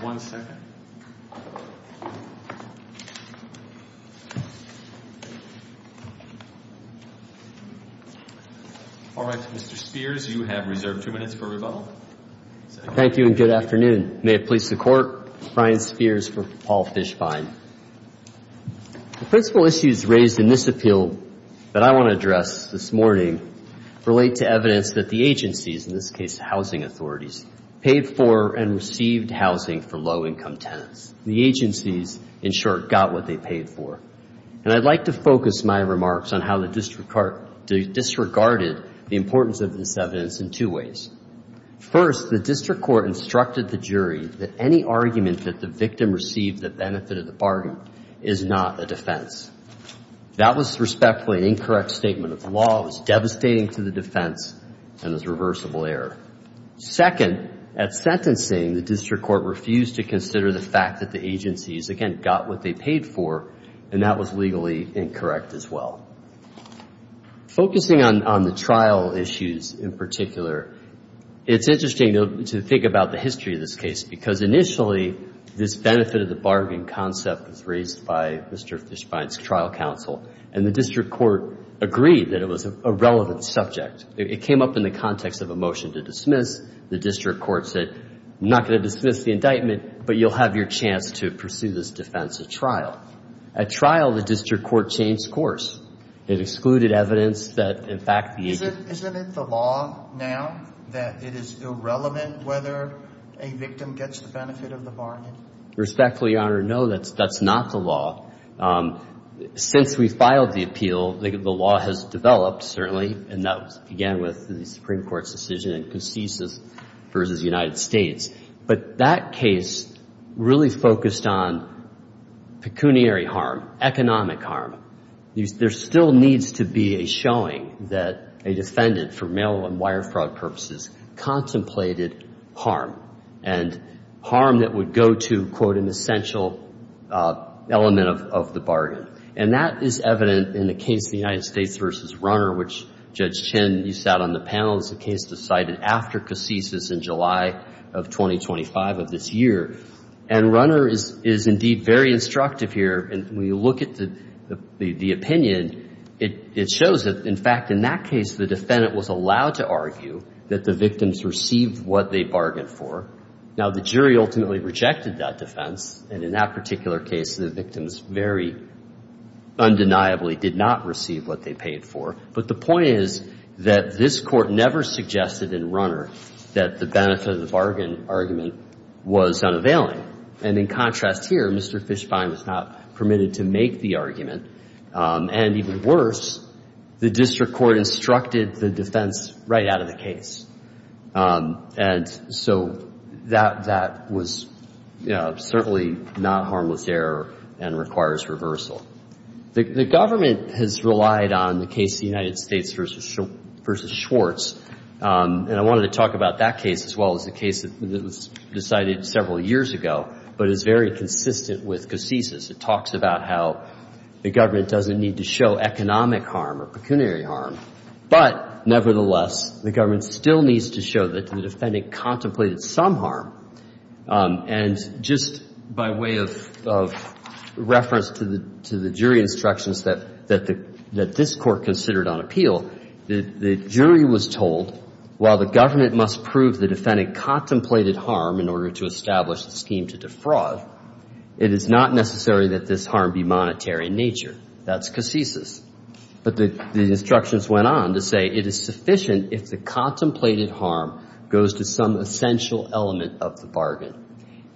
One second. All right, Mr. Spears, you have reserved two minutes for rebuttal. Thank you, and good afternoon. May it please the Court, Brian Spears for Paul Fishbein. The principal issues raised in this appeal that I want to address this morning relate to evidence that the agencies, in this case, the housing authorities, paid for and received housing for low-income tenants. The agencies, in short, got what they paid for. And I'd like to focus my remarks on how the district court disregarded the importance of this evidence in two ways. First, the district court instructed the jury that any argument that the victim received that benefited the party is not a defense. That was respectfully an incorrect statement of the law. It was devastating to the defense, and it was a reversible error. Second, at sentencing, the district court refused to consider the fact that the agencies, again, got what they paid for, and that was legally incorrect as well. Focusing on the trial issues in particular, it's interesting to think about the history of this case, because initially this benefit of the bargain concept was raised by Mr. Fishbein's trial counsel, and the district court agreed that it was a relevant subject. It came up in the context of a motion to dismiss. The district court said, I'm not going to dismiss the indictment, but you'll have your chance to pursue this defense at trial. At trial, the district court changed course. It excluded evidence that, in fact, the agency... Isn't it the law now that it is irrelevant whether a victim gets the benefit of the bargain? Respectfully, Your Honor, no, that's not the law. Since we filed the appeal, the law has developed, certainly, and that began with the Supreme Court's decision in Concesa versus the United States. But that case really focused on pecuniary harm, economic harm. There still needs to be a showing that a defendant, for mail and wire fraud purposes, contemplated harm, and harm that would go to, quote, an essential element of the bargain. And that is evident in the case of the United States versus Runner, which, Judge Chin, you sat on the panel. It's a case decided after Concesa in July of 2025 of this year. And Runner is indeed very instructive here. When you look at the opinion, it shows that, in fact, in that case, the defendant was allowed to argue that the victims received what they bargained for. Now, the jury ultimately rejected that defense, and in that particular case, the victims very undeniably did not receive what they paid for. But the point is that this Court never suggested in Runner that the benefit of the bargain argument was unavailing. And in contrast here, Mr. Fischbein was not permitted to make the argument. And even worse, the district court instructed the defense right out of the case. And so that was certainly not harmless error and requires reversal. The government has relied on the case of the United States versus Schwartz, and I wanted to talk about that case as well as the case that was decided several years ago, but is very consistent with Concesa's. It talks about how the government doesn't need to show economic harm or pecuniary harm. But nevertheless, the government still needs to show that the defendant contemplated some harm. And just by way of reference to the jury instructions that this Court considered on appeal, the jury was told, while the government must prove the defendant contemplated harm in order to establish the scheme to defraud, it is not necessary that this harm be monetary in nature. That's Concesa's. But the instructions went on to say it is sufficient if the contemplated harm goes to some essential element of the bargain.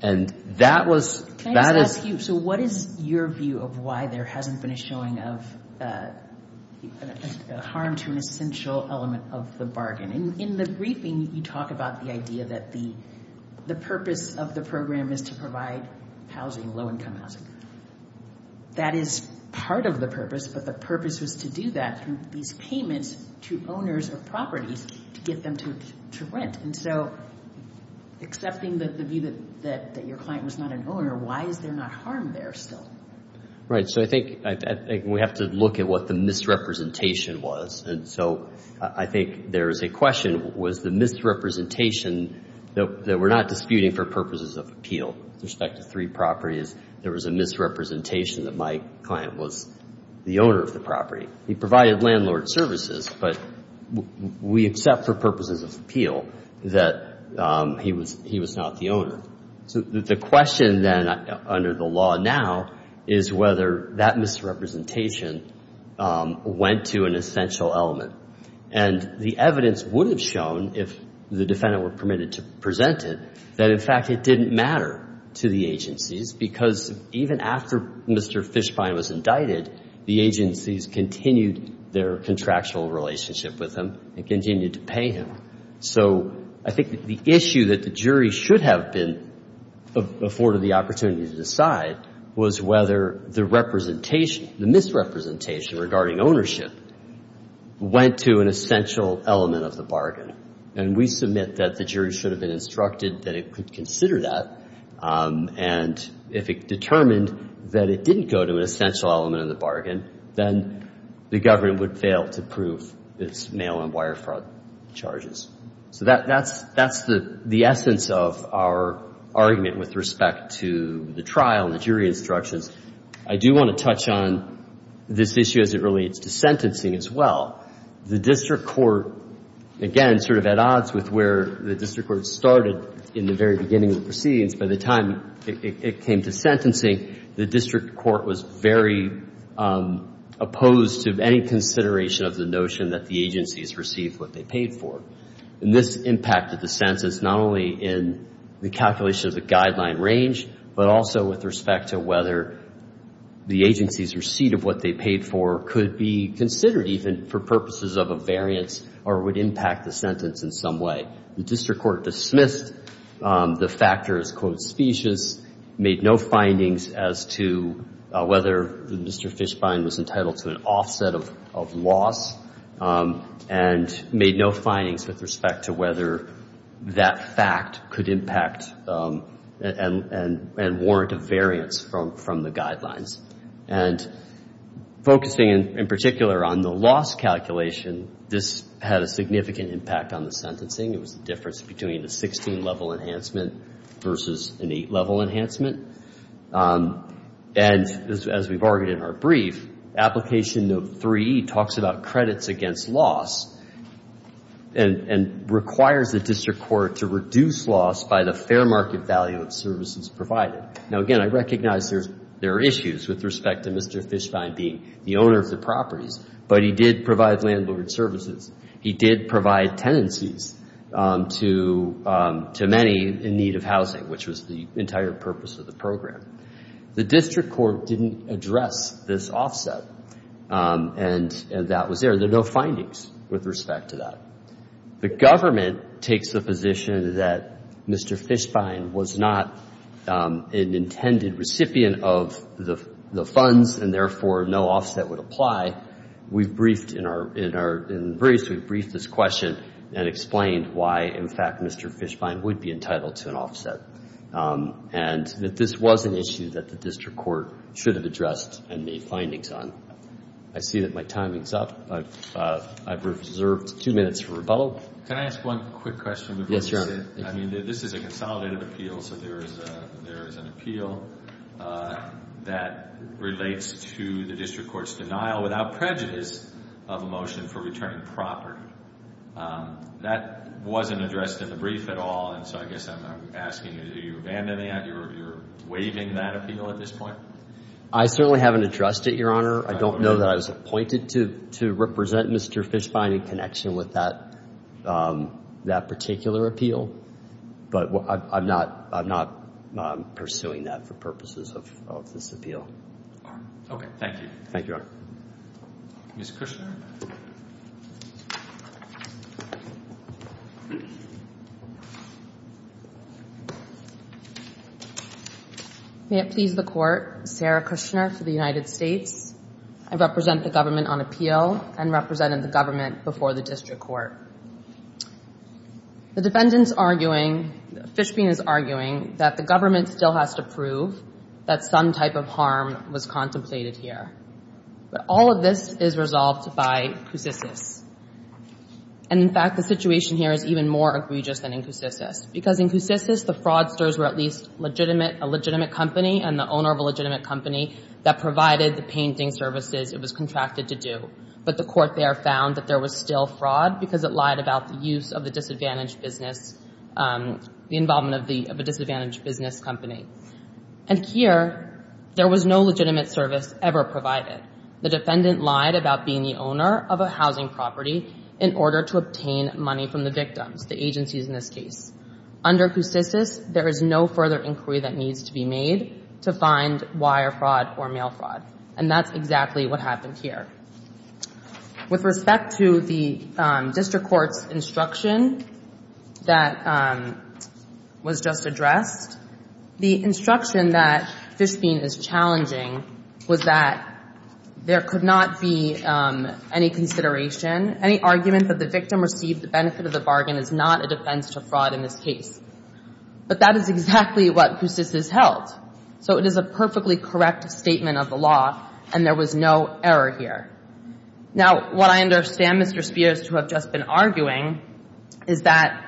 And that was – Can I just ask you, so what is your view of why there hasn't been a showing of harm to an essential element of the bargain? In the briefing, you talk about the idea that the purpose of the program is to provide housing, low-income housing. That is part of the purpose, but the purpose was to do that through these payments to owners of properties to get them to rent. And so accepting the view that your client was not an owner, why is there not harm there still? Right. So I think we have to look at what the misrepresentation was. And so I think there is a question, was the misrepresentation that we're not disputing for purposes of appeal with respect to three properties, there was a misrepresentation that my client was the owner of the property. He provided landlord services, but we accept for purposes of appeal that he was not the owner. So the question then under the law now is whether that misrepresentation went to an essential element. And the evidence would have shown, if the defendant were permitted to present it, that in fact it didn't matter to the agencies because even after Mr. Fishbein was indicted, the agencies continued their contractual relationship with him and continued to pay him. So I think the issue that the jury should have been afforded the opportunity to decide was whether the misrepresentation regarding ownership went to an essential element of the bargain. And we submit that the jury should have been instructed that it could consider that. And if it determined that it didn't go to an essential element of the bargain, then the government would fail to prove its mail-on wire fraud charges. So that's the essence of our argument with respect to the trial and the jury instructions. I do want to touch on this issue as it relates to sentencing as well. The district court, again, sort of at odds with where the district court started in the very beginning of the proceedings. By the time it came to sentencing, the district court was very opposed to any consideration of the notion that the agencies received what they paid for. And this impacted the sentence not only in the calculation of the guideline range, but also with respect to whether the agency's receipt of what they paid for could be considered even for purposes of a variance or would impact the sentence in some way. The district court dismissed the factor as, quote, specious, made no findings as to whether Mr. Fishbein was entitled to an offset of loss, and made no findings with respect to whether that fact could impact and warrant a variance from the guidelines. And focusing in particular on the loss calculation, this had a significant impact on the sentencing. It was the difference between a 16-level enhancement versus an 8-level enhancement. And as we've argued in our brief, application note 3 talks about credits against loss and requires the district court to reduce loss by the fair market value of services provided. Now, again, I recognize there are issues with respect to Mr. Fishbein being the owner of the properties, but he did provide landlord services. He did provide tenancies to many in need of housing, which was the entire purpose of the program. The district court didn't address this offset, and that was there. There are no findings with respect to that. The government takes the position that Mr. Fishbein was not an intended recipient of the funds and, therefore, no offset would apply. We've briefed this question and explained why, in fact, Mr. Fishbein would be entitled to an offset and that this was an issue that the district court should have addressed and made findings on. I see that my timing's up. I've reserved two minutes for rebuttal. Can I ask one quick question? Yes, Your Honor. I mean, this is a consolidated appeal, so there is an appeal that relates to the district court's denial, without prejudice, of a motion for returning property. That wasn't addressed in the brief at all, and so I guess I'm asking, are you abandoning that? You're waiving that appeal at this point? I certainly haven't addressed it, Your Honor. I don't know that I was appointed to represent Mr. Fishbein in connection with that particular appeal, but I'm not pursuing that for purposes of this appeal. Okay. Thank you. Thank you, Your Honor. Ms. Kushner? May it please the Court, Sarah Kushner for the United States. I represent the government on appeal and represented the government before the district court. The defendant's arguing, Fishbein is arguing, that the government still has to prove that some type of harm was contemplated here. But all of this is resolved by the district court. And in fact, the situation here is even more egregious than in Cusisis, because in Cusisis, the fraudsters were at least a legitimate company and the owner of a legitimate company that provided the painting services it was contracted to do. But the court there found that there was still fraud, because it lied about the use of the disadvantaged business, the involvement of a disadvantaged business company. And here, there was no legitimate service ever provided. The defendant lied about being the owner of a housing property in order to obtain money from the victims, the agencies in this case. Under Cusisis, there is no further inquiry that needs to be made to find wire fraud or mail fraud. And that's exactly what happened here. With respect to the district court's instruction that was just addressed, the instruction that Fishbein is challenging was that there could not be any consideration. Any argument that the victim received the benefit of the bargain is not a defense to fraud in this case. But that is exactly what Cusisis held. So it is a perfectly correct statement of the law, and there was no error here. Now, what I understand, Mr. Spears, to have just been arguing, is that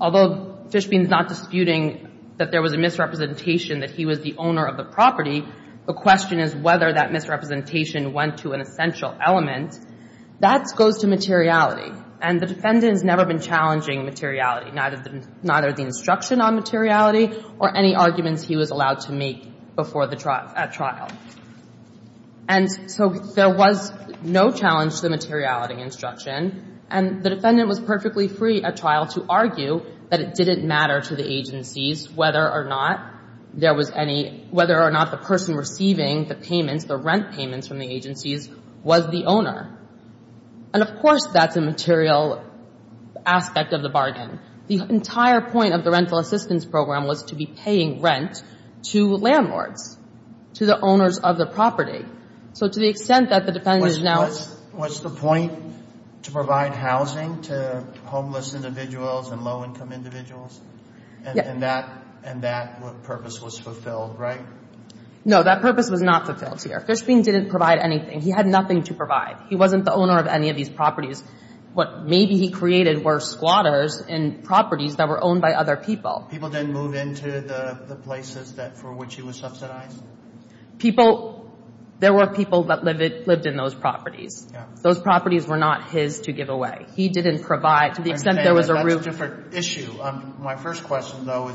although Fishbein is not disputing that there was a misrepresentation that he was the owner of the property, the question is whether that misrepresentation went to an essential element. That goes to materiality. And the defendant has never been challenging materiality, neither the instruction on materiality or any arguments he was allowed to make at trial. And so there was no challenge to the materiality instruction. And the defendant was perfectly free at trial to argue that it didn't matter to the agencies whether or not there was any – whether or not the person receiving the payments, the rent payments from the agencies, was the owner. And, of course, that's a material aspect of the bargain. The entire point of the rental assistance program was to be paying rent to landlords, to the owners of the property. So to the extent that the defendant is now – What's the point to provide housing to homeless individuals and low-income individuals? And that purpose was fulfilled, right? No, that purpose was not fulfilled here. Fishbein didn't provide anything. He had nothing to provide. He wasn't the owner of any of these properties. What maybe he created were squatters in properties that were owned by other people. People didn't move into the places for which he was subsidized? People – there were people that lived in those properties. Those properties were not his to give away. He didn't provide to the extent there was a roof. That's a different issue. My first question, though,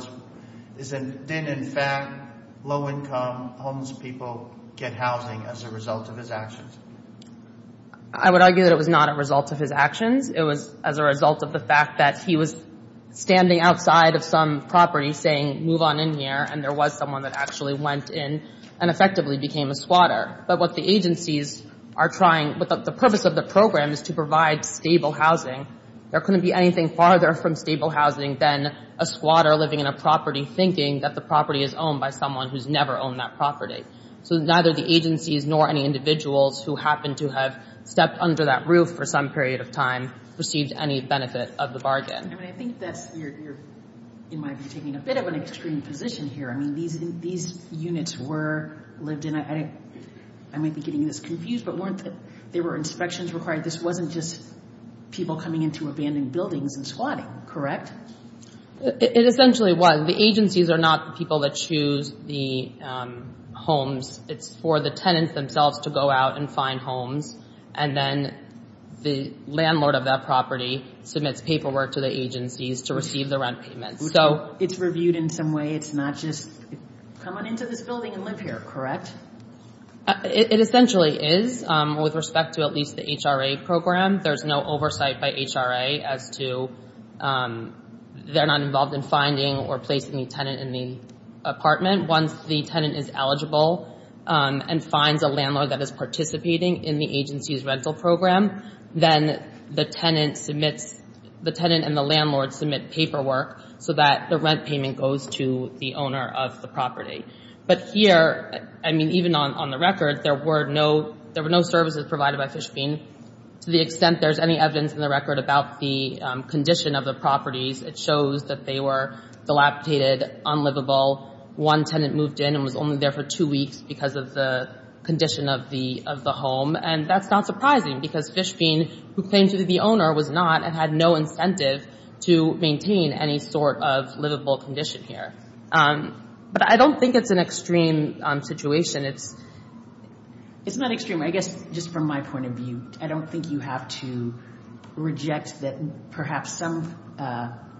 is didn't, in fact, low-income homeless people get housing as a result of his actions? I would argue that it was not a result of his actions. It was as a result of the fact that he was standing outside of some property saying, move on in here, and there was someone that actually went in and effectively became a squatter. But what the agencies are trying – the purpose of the program is to provide stable housing. There couldn't be anything farther from stable housing than a squatter living in a property thinking that the property is owned by someone who's never owned that property. So neither the agencies nor any individuals who happened to have stepped under that roof for some period of time received any benefit of the bargain. I mean, I think that's – you might be taking a bit of an extreme position here. I mean, these units were lived in. I might be getting this confused, but weren't – there were inspections required. This wasn't just people coming into abandoned buildings and squatting, correct? It essentially was. The agencies are not the people that choose the homes. It's for the tenants themselves to go out and find homes, and then the landlord of that property submits paperwork to the agencies to receive the rent payments. So it's reviewed in some way. It's not just come on into this building and live here, correct? It essentially is with respect to at least the HRA program. There's no oversight by HRA as to – they're not involved in finding or placing the tenant in the apartment. Once the tenant is eligible and finds a landlord that is participating in the agency's rental program, then the tenant submits – the tenant and the landlord submit paperwork so that the rent payment goes to the owner of the property. But here, I mean, even on the record, there were no services provided by Fishbein. To the extent there's any evidence in the record about the condition of the properties, it shows that they were dilapidated, unlivable. One tenant moved in and was only there for two weeks because of the condition of the home, and that's not surprising because Fishbein, who claims to be the owner, was not and had no incentive to maintain any sort of livable condition here. But I don't think it's an extreme situation. It's not extreme. I guess just from my point of view, I don't think you have to reject that perhaps some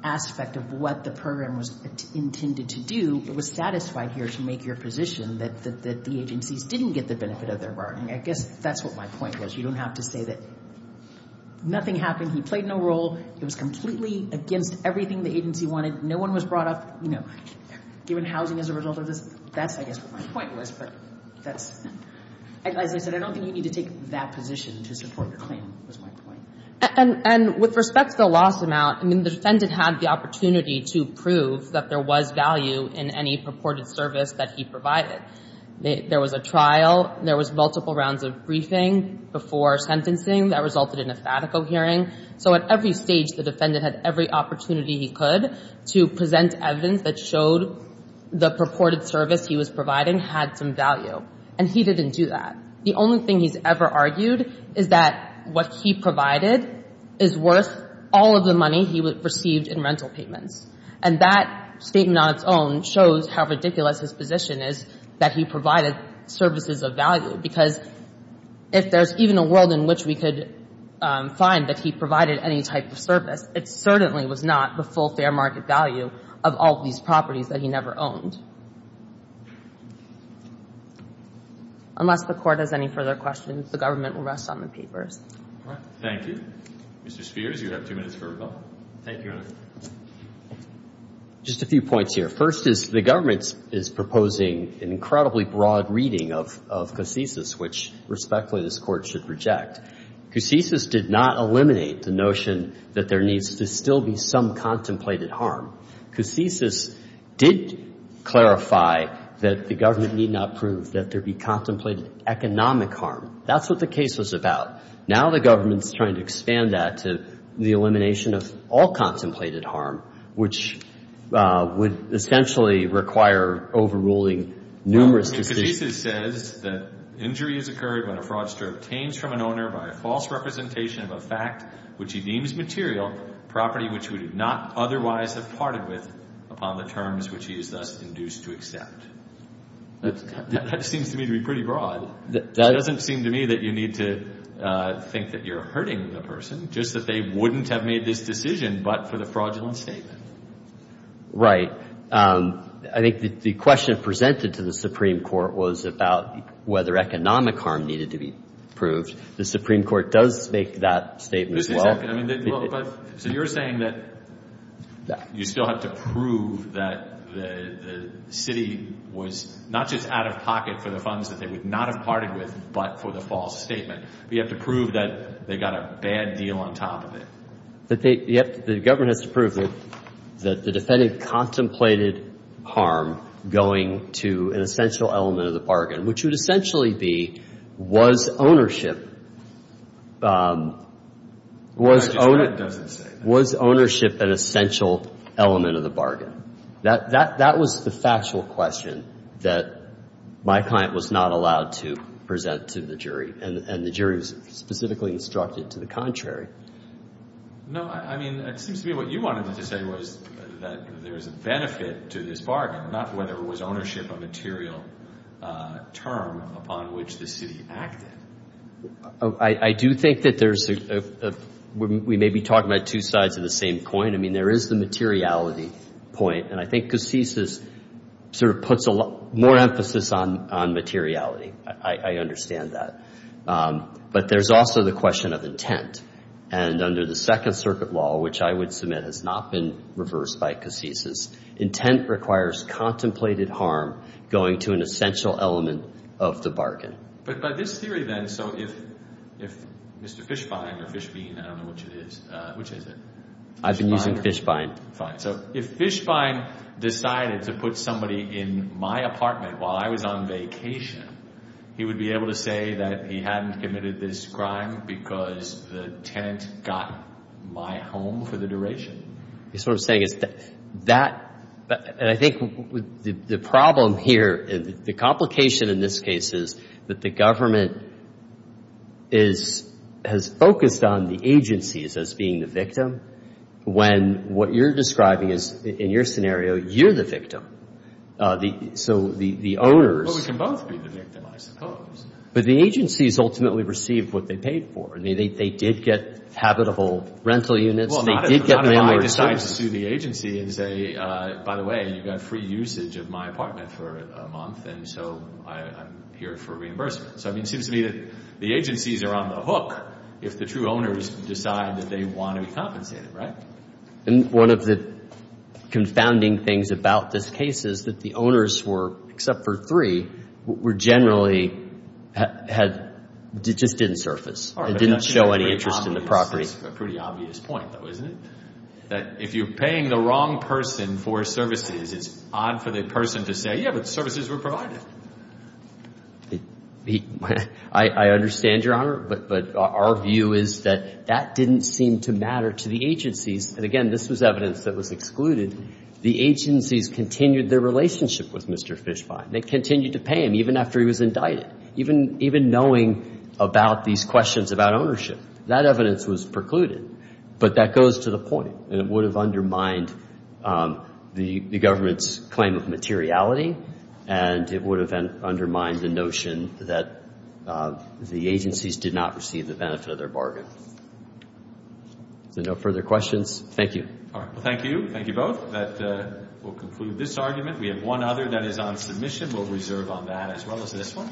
aspect of what the program was intended to do was satisfied here to make your position that the agencies didn't get the benefit of their bargaining. I guess that's what my point was. You don't have to say that nothing happened. He played no role. It was completely against everything the agency wanted. No one was brought up, you know, given housing as a result of this. That's, I guess, what my point was, but that's – As I said, I don't think you need to take that position to support your claim, was my point. And with respect to the loss amount, I mean, the defendant had the opportunity to prove that there was value in any purported service that he provided. There was a trial. There was multiple rounds of briefing before sentencing that resulted in a fatico hearing. So at every stage, the defendant had every opportunity he could to present evidence that showed the purported service he was providing had some value. And he didn't do that. The only thing he's ever argued is that what he provided is worth all of the money he received in rental payments. And that statement on its own shows how ridiculous his position is that he provided services of value, because if there's even a world in which we could find that he provided any type of service, it certainly was not the full fair market value of all of these properties that he never owned. Unless the Court has any further questions, the Government will rest on the papers. Thank you. Mr. Spears, you have two minutes for rebuttal. Thank you, Your Honor. Just a few points here. First is the Government is proposing an incredibly broad reading of Casesis, which, respectfully, this Court should reject. Casesis did not eliminate the notion that there needs to still be some contemplated harm. Casesis did clarify that the Government need not prove that there be contemplated economic harm. That's what the case was about. Now the Government is trying to expand that to the elimination of all contemplated harm, which would essentially require overruling numerous decisions. Casesis says that injury is occurred when a fraudster obtains from an owner by a false representation of a fact which he deems material, property which he would not otherwise have parted with, upon the terms which he is thus induced to accept. That seems to me to be pretty broad. It doesn't seem to me that you need to think that you're hurting the person, just that they wouldn't have made this decision but for the fraudulent statement. Right. I think the question presented to the Supreme Court was about whether economic harm needed to be proved. The Supreme Court does make that statement as well. So you're saying that you still have to prove that the city was not just out of pocket for the funds that they would not have parted with but for the false statement. You have to prove that they got a bad deal on top of it. The government has to prove that the defendant contemplated harm going to an essential element of the bargain, which would essentially be, was ownership an essential element of the bargain? That was the factual question that my client was not allowed to present to the jury, and the jury was specifically instructed to the contrary. No, I mean, it seems to me what you wanted to say was that there is a benefit to this bargain, not whether it was ownership, a material term upon which the city acted. I do think that there's a, we may be talking about two sides of the same coin. I mean, there is the materiality point, and I think Cassis sort of puts more emphasis on materiality. I understand that. But there's also the question of intent, and under the Second Circuit law, which I would submit has not been reversed by Cassis, intent requires contemplated harm going to an essential element of the bargain. But by this theory then, so if Mr. Fishbein or Fishbein, I don't know which it is, which is it? I've been using Fishbein. So if Fishbein decided to put somebody in my apartment while I was on vacation, he would be able to say that he hadn't committed this crime because the tenant got my home for the duration. So what I'm saying is that, and I think the problem here, the complication in this case is that the government has focused on the agencies as being the victim when what you're describing is, in your scenario, you're the victim. So the owners. Well, we can both be the victim, I suppose. But the agencies ultimately receive what they paid for. I mean, they did get habitable rental units. Well, not if I decide to sue the agency and say, by the way, you've got free usage of my apartment for a month, and so I'm here for a reimbursement. So, I mean, it seems to me that the agencies are on the hook if the true owners decide that they want to be compensated, right? One of the confounding things about this case is that the owners were, except for three, were generally had, just didn't surface. It didn't show any interest in the property. That's a pretty obvious point, though, isn't it? That if you're paying the wrong person for services, it's odd for the person to say, yeah, but services were provided. I understand, Your Honor, but our view is that that didn't seem to matter to the agencies. And, again, this was evidence that was excluded. The agencies continued their relationship with Mr. Fishbein. They continued to pay him even after he was indicted, even knowing about these questions about ownership. That evidence was precluded. But that goes to the point, and it would have undermined the government's claim of materiality, and it would have undermined the notion that the agencies did not receive the benefit of their bargain. Is there no further questions? Thank you. Thank you. Thank you both. That will conclude this argument. We have one other that is on submission. We'll reserve on that as well as this one.